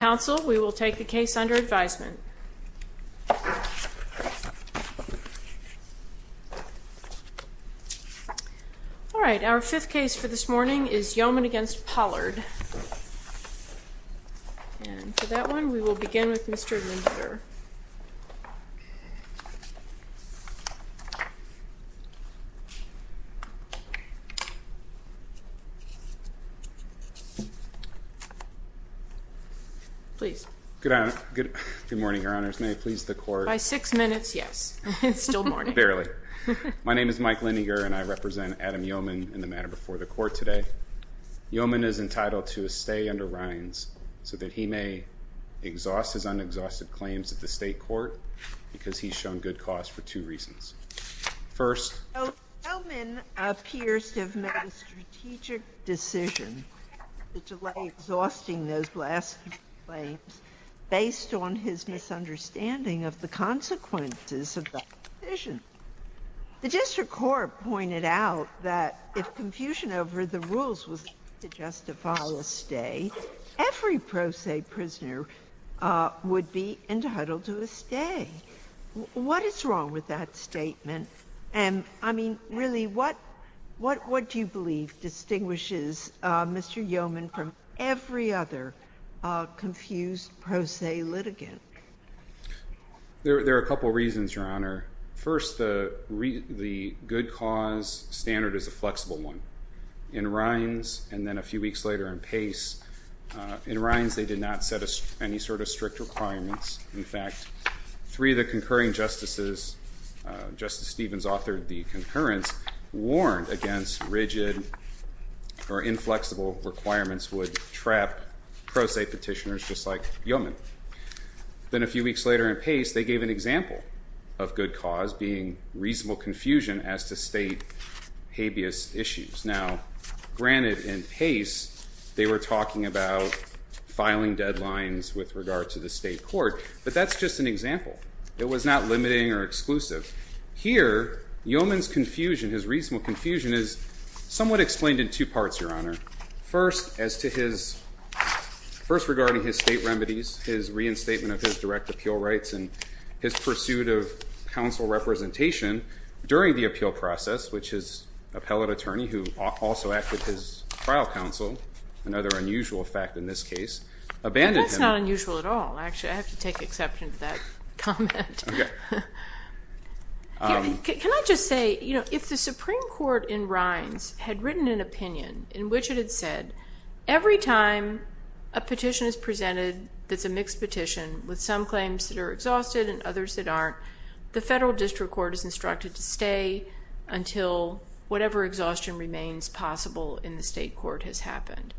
Council, we will take the case under advisement. All right, our fifth case for this morning is Yeoman v. Pollard. And for that one, we will begin with Mr. Lindiger. Please. Good morning, Your Honors. May it please the Court. By six minutes, yes. It's still morning. Barely. My name is Mike Lindiger, and I represent Adam Yeoman in the manner before the Court today. Yeoman is entitled to a stay under Reins so that he may exhaust his unexhausted claims at the State Court because he's shown good cause for two reasons. First— Yeoman appears to have made a strategic decision to delay exhausting those blasphemy claims based on his misunderstanding of the consequences of that decision. The district court pointed out that if confusion over the rules was to justify a stay, every pro se prisoner would be entitled to a stay. What is wrong with that statement? And, I mean, really, what do you believe distinguishes Mr. Yeoman from every other confused pro se litigant? There are a couple reasons, Your Honor. First, the good cause standard is a flexible one. In Reins, and then a few weeks later in Pace, in Reins they did not set any sort of strict requirements. In fact, three of the concurring justices, Justice Stevens authored the concurrence, warned against rigid or inflexible requirements would trap pro se petitioners just like Yeoman. Then a few weeks later in Pace, they gave an example of good cause being reasonable confusion as to state habeas issues. Now, granted, in Pace they were talking about filing deadlines with regard to the state court, but that's just an example. It was not limiting or exclusive. Here, Yeoman's confusion, his reasonable confusion, is somewhat explained in two parts, Your Honor. First, as to his, first regarding his state remedies, his reinstatement of his direct appeal rights, and his pursuit of counsel representation during the appeal process, which his appellate attorney, who also acted his trial counsel, another unusual fact in this case, abandoned him. That's not unusual at all. Okay. Can I just say, you know, if the Supreme Court in Rines had written an opinion in which it had said, every time a petition is presented that's a mixed petition with some claims that are exhausted and others that aren't, the federal district court is instructed to stay until whatever exhaustion remains possible in the state court has happened.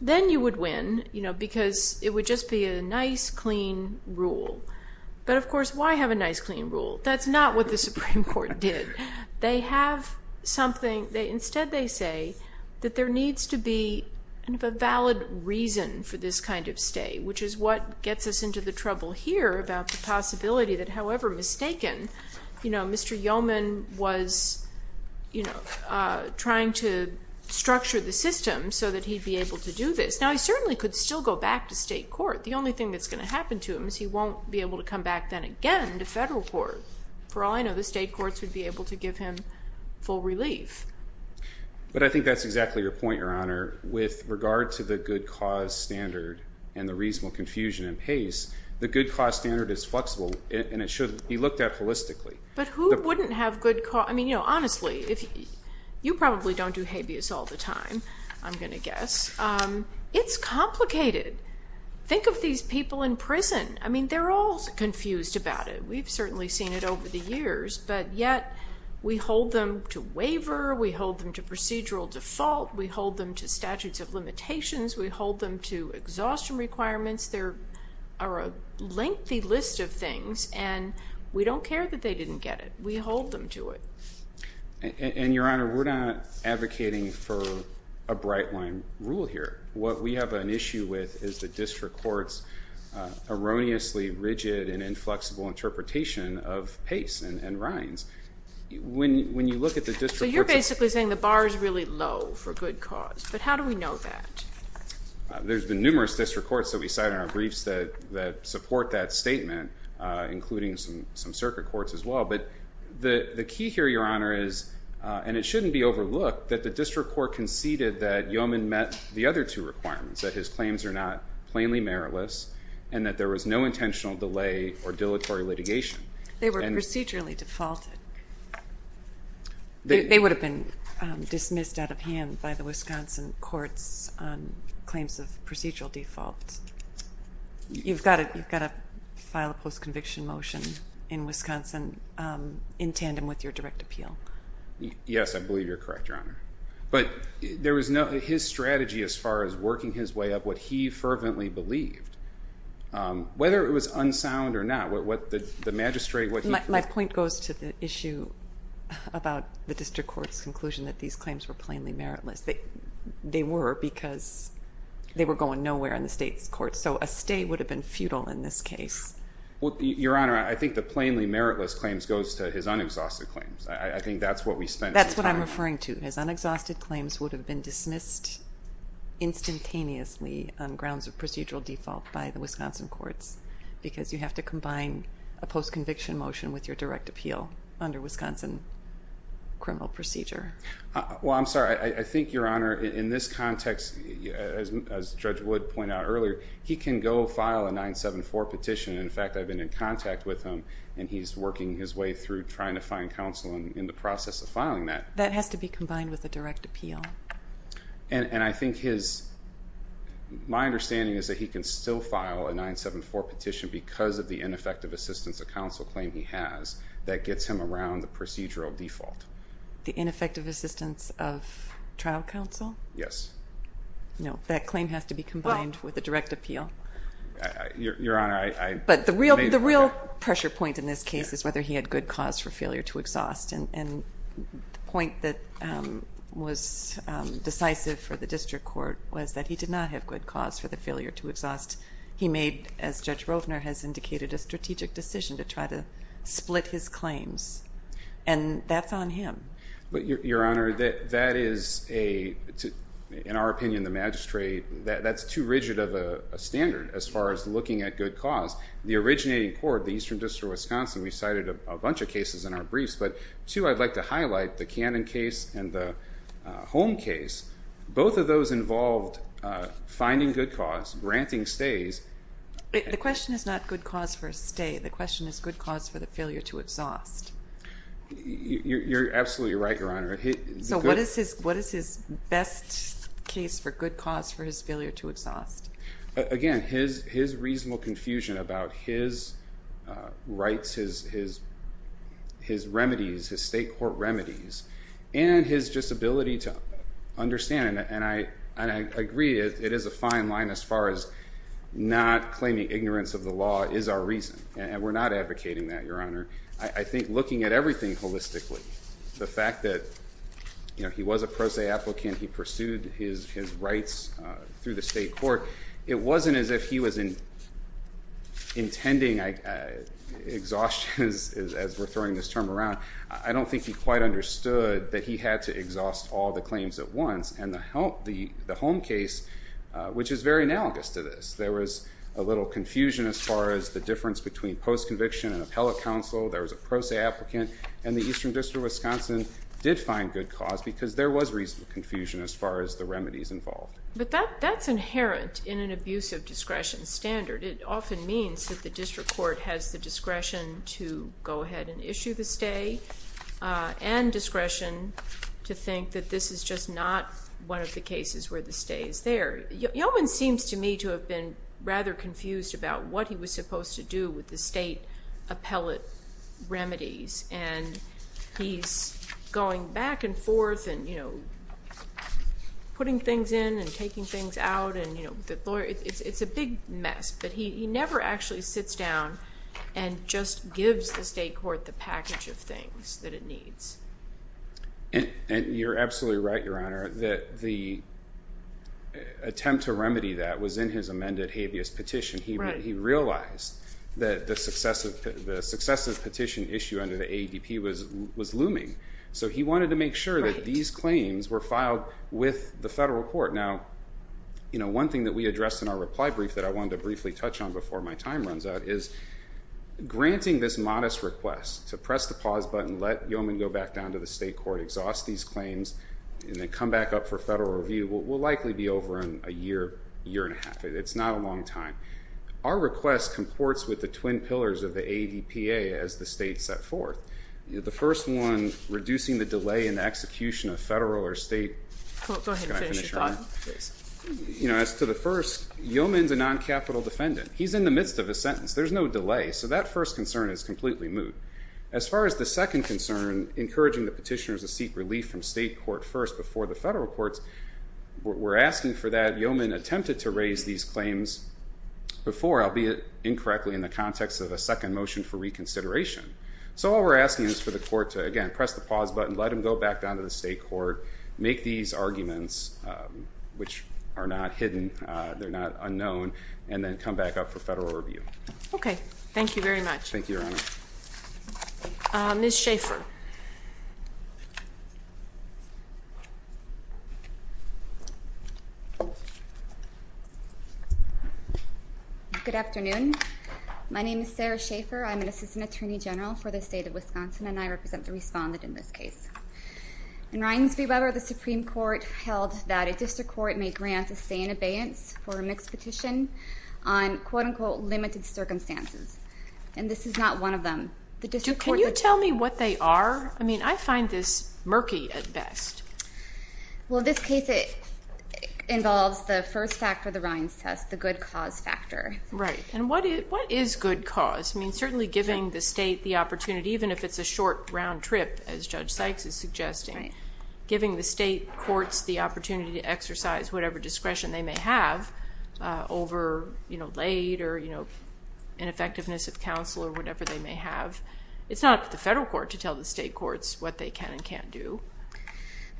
Then you would win, you know, because it would just be a nice, clean rule. But, of course, why have a nice, clean rule? That's not what the Supreme Court did. They have something, instead they say that there needs to be a valid reason for this kind of stay, which is what gets us into the trouble here about the possibility that, however mistaken, you know, Mr. Yeoman was, you know, trying to structure the system so that he'd be able to do this. Now, he certainly could still go back to state court. The only thing that's going to happen to him is he won't be able to come back then to federal court. For all I know, the state courts would be able to give him full relief. But I think that's exactly your point, Your Honor. With regard to the good cause standard and the reasonable confusion and pace, the good cause standard is flexible and it should be looked at holistically. But who wouldn't have good cause? I mean, you know, honestly, you probably don't do habeas all the time, I'm going to guess. It's complicated. Think of these people in prison. I mean, they're all confused about it. We've certainly seen it over the years, but yet we hold them to waiver, we hold them to procedural default, we hold them to statutes of limitations, we hold them to exhaustion requirements. There are a lengthy list of things, and we don't care that they didn't get it. We hold them to it. And, Your Honor, we're not advocating for a bright-line rule here. What we have an issue with is the district court's erroneously rigid and inflexible interpretation of pace and rinds. When you look at the district courts. So you're basically saying the bar is really low for good cause. But how do we know that? There's been numerous district courts that we cite in our briefs that support that statement, including some circuit courts as well. But the key here, Your Honor, is, and it shouldn't be overlooked, that the district court conceded that Yeoman met the other two requirements, that his claims are not plainly meritless and that there was no intentional delay or dilatory litigation. They were procedurally defaulted. They would have been dismissed out of hand by the Wisconsin courts on claims of procedural default. You've got to file a post-conviction motion in Wisconsin in tandem with your direct appeal. Yes, I believe you're correct, Your Honor. But there was no, his strategy as far as working his way up, what he fervently believed, whether it was unsound or not, what the magistrate. My point goes to the issue about the district court's conclusion that these claims were plainly meritless. They were because they were going nowhere in the state's courts. So a stay would have been futile in this case. Your Honor, I think the plainly meritless claims goes to his unexhausted claims. I think that's what we spent time on. That's what I'm referring to. His unexhausted claims would have been dismissed instantaneously on grounds of procedural default by the Wisconsin courts because you have to combine a post-conviction motion with your direct appeal under Wisconsin criminal procedure. Well, I'm sorry. I think, Your Honor, in this context, as Judge Wood pointed out earlier, he can go file a 974 petition. In fact, I've been in contact with him, and he's working his way through trying to find counsel in the process of filing that. That has to be combined with a direct appeal. And I think my understanding is that he can still file a 974 petition because of the ineffective assistance of counsel claim he has that gets him around the procedural default. The ineffective assistance of trial counsel? Yes. No, that claim has to be combined with a direct appeal. Your Honor, I may be wrong. But the real pressure point in this case is whether he had good cause for failure to exhaust. And the point that was decisive for the district court was that he did not have good cause for the failure to exhaust. He made, as Judge Rovner has indicated, a strategic decision to try to split his claims. And that's on him. But, Your Honor, that is a, in our opinion, the magistrate, that's too rigid of a standard as far as looking at good cause. The originating court, the Eastern District of Wisconsin, we cited a bunch of cases in our briefs. But, too, I'd like to highlight the Cannon case and the Holm case. Both of those involved finding good cause, granting stays. The question is not good cause for a stay. The question is good cause for the failure to exhaust. You're absolutely right, Your Honor. So what is his best case for good cause for his failure to exhaust? Again, his reasonable confusion about his rights, his remedies, his state court remedies, and his just ability to understand. And I agree, it is a fine line as far as not claiming ignorance of the law is our reason. And we're not advocating that, Your Honor. I think looking at everything holistically, the fact that, you know, he was a pro se applicant. He pursued his rights through the state court. It wasn't as if he was intending exhaustion as we're throwing this term around. I don't think he quite understood that he had to exhaust all the claims at once. And the Holm case, which is very analogous to this, there was a little confusion as far as the difference between post conviction and appellate counsel, there was a pro se applicant, and the Eastern District of Wisconsin did find good cause because there was reasonable confusion as far as the remedies involved. But that's inherent in an abuse of discretion standard. It often means that the district court has the discretion to go ahead and issue the stay and discretion to think that this is just not one of the cases where the stay is there. Yeoman seems to me to have been rather confused about what he was supposed to do with the state appellate remedies. And he's going back and forth and, you know, putting things in and taking things out. And, you know, it's a big mess. But he never actually sits down and just gives the state court the package of things that it needs. And you're absolutely right, Your Honor, that the attempt to remedy that was in his amended habeas petition. He realized that the successive petition issue under the AEDP was looming. So he wanted to make sure that these claims were filed with the federal court. Now, you know, one thing that we addressed in our reply brief that I wanted to briefly touch on before my time runs out is granting this modest request to press the pause button, let Yeoman go back down to the state court, exhaust these claims, and then come back up for federal review will likely be over in a year, year and a half. It's not a long time. Our request comports with the twin pillars of the AEDPA as the state set forth. The first one, reducing the delay in the execution of federal or state. Go ahead and finish your thought. You know, as to the first, Yeoman's a noncapital defendant. He's in the midst of a sentence. There's no delay. So that first concern is completely moot. As far as the second concern, encouraging the petitioners to seek relief from state court first before the federal courts, we're asking for that. Yeoman attempted to raise these claims before, albeit incorrectly, in the context of a second motion for reconsideration. So all we're asking is for the court to, again, press the pause button, let him go back down to the state court, make these arguments, which are not hidden, they're not unknown, and then come back up for federal review. Okay. Thank you very much. Thank you, Your Honor. Ms. Schaefer. Good afternoon. My name is Sarah Schaefer. I'm an assistant attorney general for the state of Wisconsin, and I represent the respondent in this case. In Rines v. Weber, the Supreme Court held that a district court may grant a stay in abeyance for a mixed petition on, quote, unquote, limited circumstances. And this is not one of them. Can you tell me what they are? I mean, I find this murky at best. Well, this case involves the first factor of the Rines test, the good cause factor. Right. And what is good cause? I mean, certainly giving the state the opportunity, even if it's a short round trip, as Judge Sykes is suggesting, giving the state courts the opportunity to exercise whatever discretion they may have over, you know, late or, you know, ineffectiveness of counsel or whatever they may have, it's not up to the federal court to tell the state courts what they can and can't do.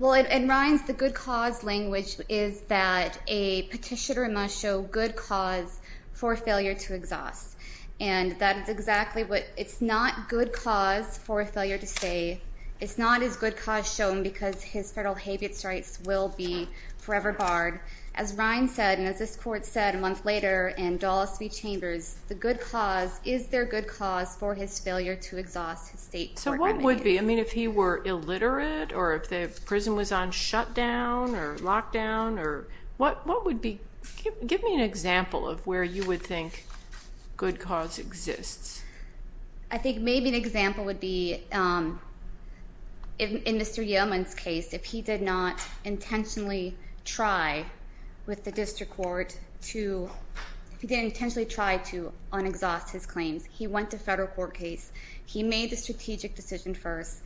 Well, in Rines, the good cause language is that a petitioner must show good cause for failure to exhaust. And that is exactly what it's not good cause for a failure to stay. It's not as good cause shown because his federal habeas rights will be forever barred. As Rines said and as this court said a month later in Dulles v. Chambers, the good cause is their good cause for his failure to exhaust his state court remedy. So what would be? I mean, if he were illiterate or if the prison was on shutdown or lockdown or what would be? Give me an example of where you would think good cause exists. I think maybe an example would be in Mr. Yeoman's case, if he did not intentionally try with the district court to un-exhaust his claims. He went to federal court case. He made the strategic decision first.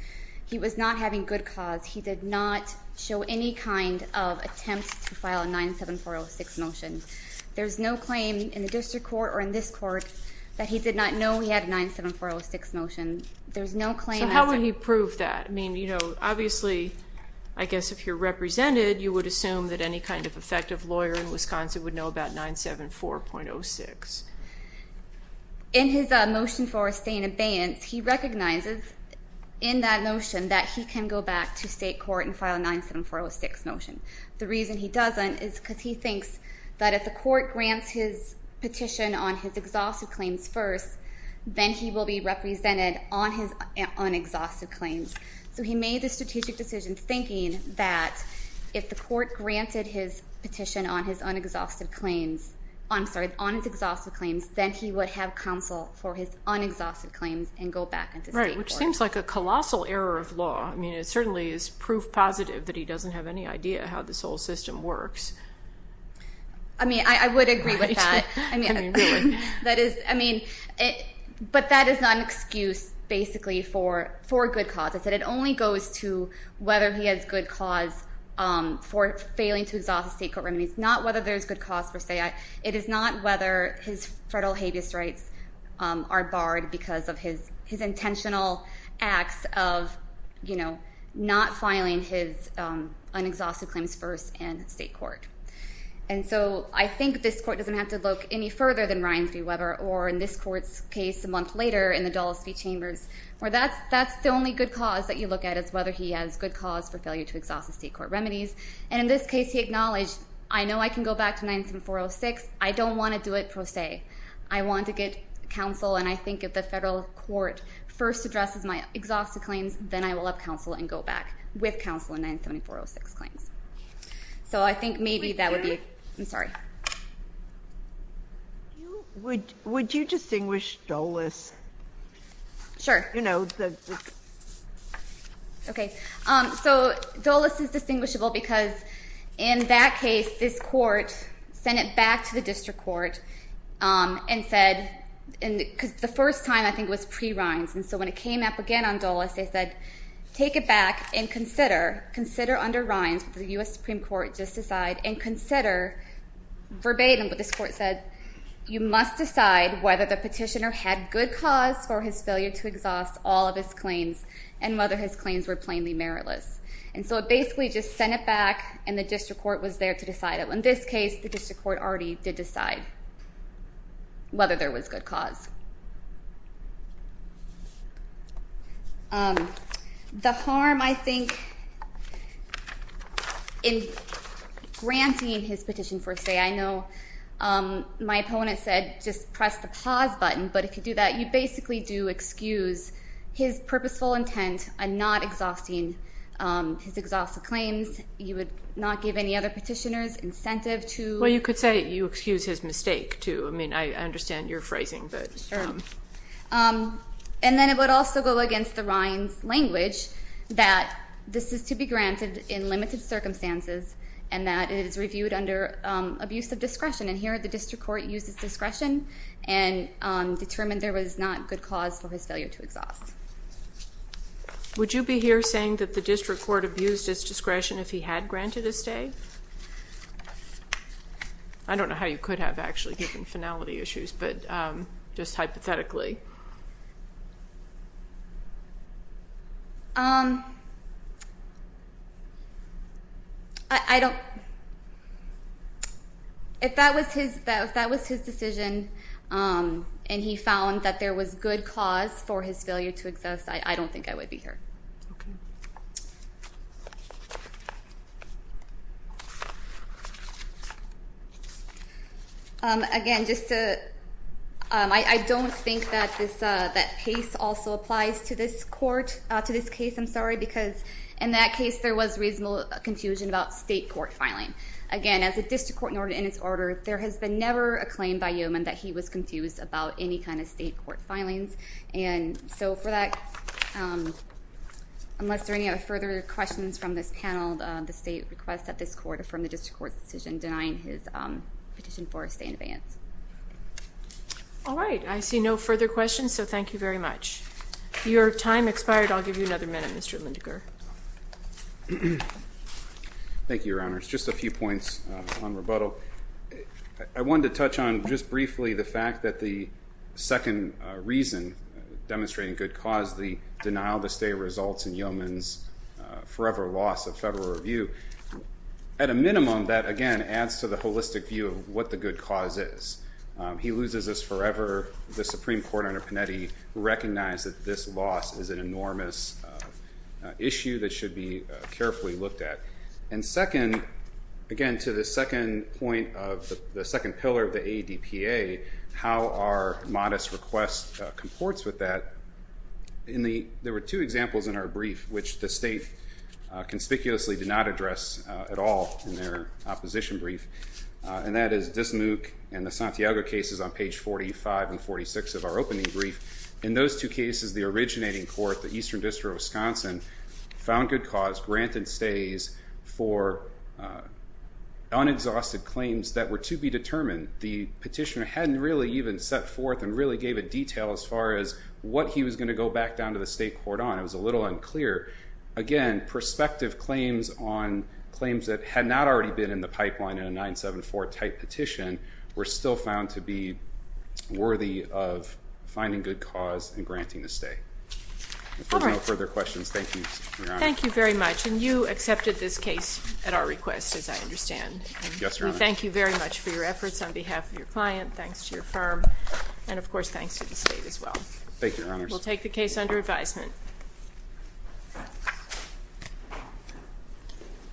He was not having good cause. He did not show any kind of attempt to file a 97406 motion. There's no claim in the district court or in this court that he did not know he had a 97406 motion. There's no claim. So how would he prove that? I mean, you know, obviously, I guess if you're represented, you would assume that any kind of effective lawyer in Wisconsin would know about 974.06. In his motion for staying abeyance, he recognizes in that notion that he can go back to state court and file a 97406 motion. The reason he doesn't is because he thinks that if the court grants his petition on his exhaustive claims first, then he will be represented on his un-exhaustive claims. So he made the strategic decision thinking that if the court granted his petition on his un-exhaustive claims, I'm sorry, on his exhaustive claims, then he would have counsel for his un-exhaustive claims and go back into state court. Right, which seems like a colossal error of law. I mean, it certainly is proof positive that he doesn't have any idea how this whole system works. I mean, I would agree with that. I mean, but that is not an excuse, basically, for good cause. It only goes to whether he has good cause for failing to exhaust his state court remedies, not whether there's good cause per se. It is not whether his federal habeas rights are barred because of his intentional acts of, you know, not filing his un-exhaustive claims first in state court. And so I think this court doesn't have to look any further than Ryan v. Weber or in this court's case a month later in the Dulles v. Chambers, where that's the only good cause that you look at is whether he has good cause for failure to exhaust his state court remedies. And in this case he acknowledged, I know I can go back to 97406. I don't want to do it per se. I want to get counsel, and I think if the federal court first addresses my exhaustive claims, then I will have counsel and go back with counsel in 97406 claims. So I think maybe that would be – I'm sorry. Would you distinguish Dulles? Sure. You know, the – Okay. So Dulles is distinguishable because in that case this court sent it back to the district court and said – because the first time I think was pre-Rynes, and so when it came up again on Dulles, they said take it back and consider, consider under Rynes, the U.S. Supreme Court just decided, and consider verbatim what this court said. You must decide whether the petitioner had good cause for his failure to exhaust all of his claims and whether his claims were plainly meritless. And so it basically just sent it back, and the district court was there to decide it. In this case, the district court already did decide whether there was good cause. The harm, I think, in granting his petition first say – I know my opponent said just press the pause button, but if you do that, you basically do excuse his purposeful intent on not exhausting his exhaustive claims. You would not give any other petitioners incentive to – Well, you could say you excuse his mistake, too. I mean, I understand your phrasing, but – Sure. And then it would also go against the Rynes language that this is to be granted in limited circumstances and that it is reviewed under abuse of discretion. And here the district court used its discretion and determined there was not good cause for his failure to exhaust. Would you be here saying that the district court abused its discretion if he had granted his stay? I don't know how you could have actually given finality issues, but just hypothetically. I don't – if that was his decision and he found that there was good cause for his failure to exhaust, I don't think I would be here. Okay. Again, just to – I don't think that this – that pace also applies to this court – to this case, I'm sorry, because in that case there was reasonable confusion about state court filing. Again, as a district court in its order, there has been never a claim by Yeoman that he was confused about any kind of state court filings. And so for that, unless there are any further questions from this panel, the state requests that this court affirm the district court's decision denying his petition for a stay in advance. All right. I see no further questions, so thank you very much. Your time expired. I'll give you another minute, Mr. Lindegar. Thank you, Your Honors. Just a few points on rebuttal. I wanted to touch on just briefly the fact that the second reason, demonstrating good cause, the denial to stay results in Yeoman's forever loss of federal review. At a minimum, that, again, adds to the holistic view of what the good cause is. He loses this forever. The Supreme Court under Panetti recognized that this loss is an enormous issue that should be carefully looked at. And second, again, to the second point of the second pillar of the ADPA, how our modest request comports with that, there were two examples in our brief which the state conspicuously did not address at all in their opposition brief, and that is Dismuke and the Santiago cases on page 45 and 46 of our opening brief. In those two cases, the originating court, the Eastern District of Wisconsin, found good cause, granted stays for unexhausted claims that were to be determined. The petitioner hadn't really even set forth and really gave a detail as far as what he was going to go back down to the state court on. It was a little unclear. Again, prospective claims on claims that had not already been in the pipeline in a 974-type petition were still found to be worthy of finding good cause and granting the stay. All right. If there's no further questions, thank you, Your Honor. Thank you very much. And you accepted this case at our request, as I understand. Yes, Your Honor. We thank you very much for your efforts on behalf of your client, thanks to your firm, and, of course, thanks to the state as well. Thank you, Your Honor. We'll take the case under advisement.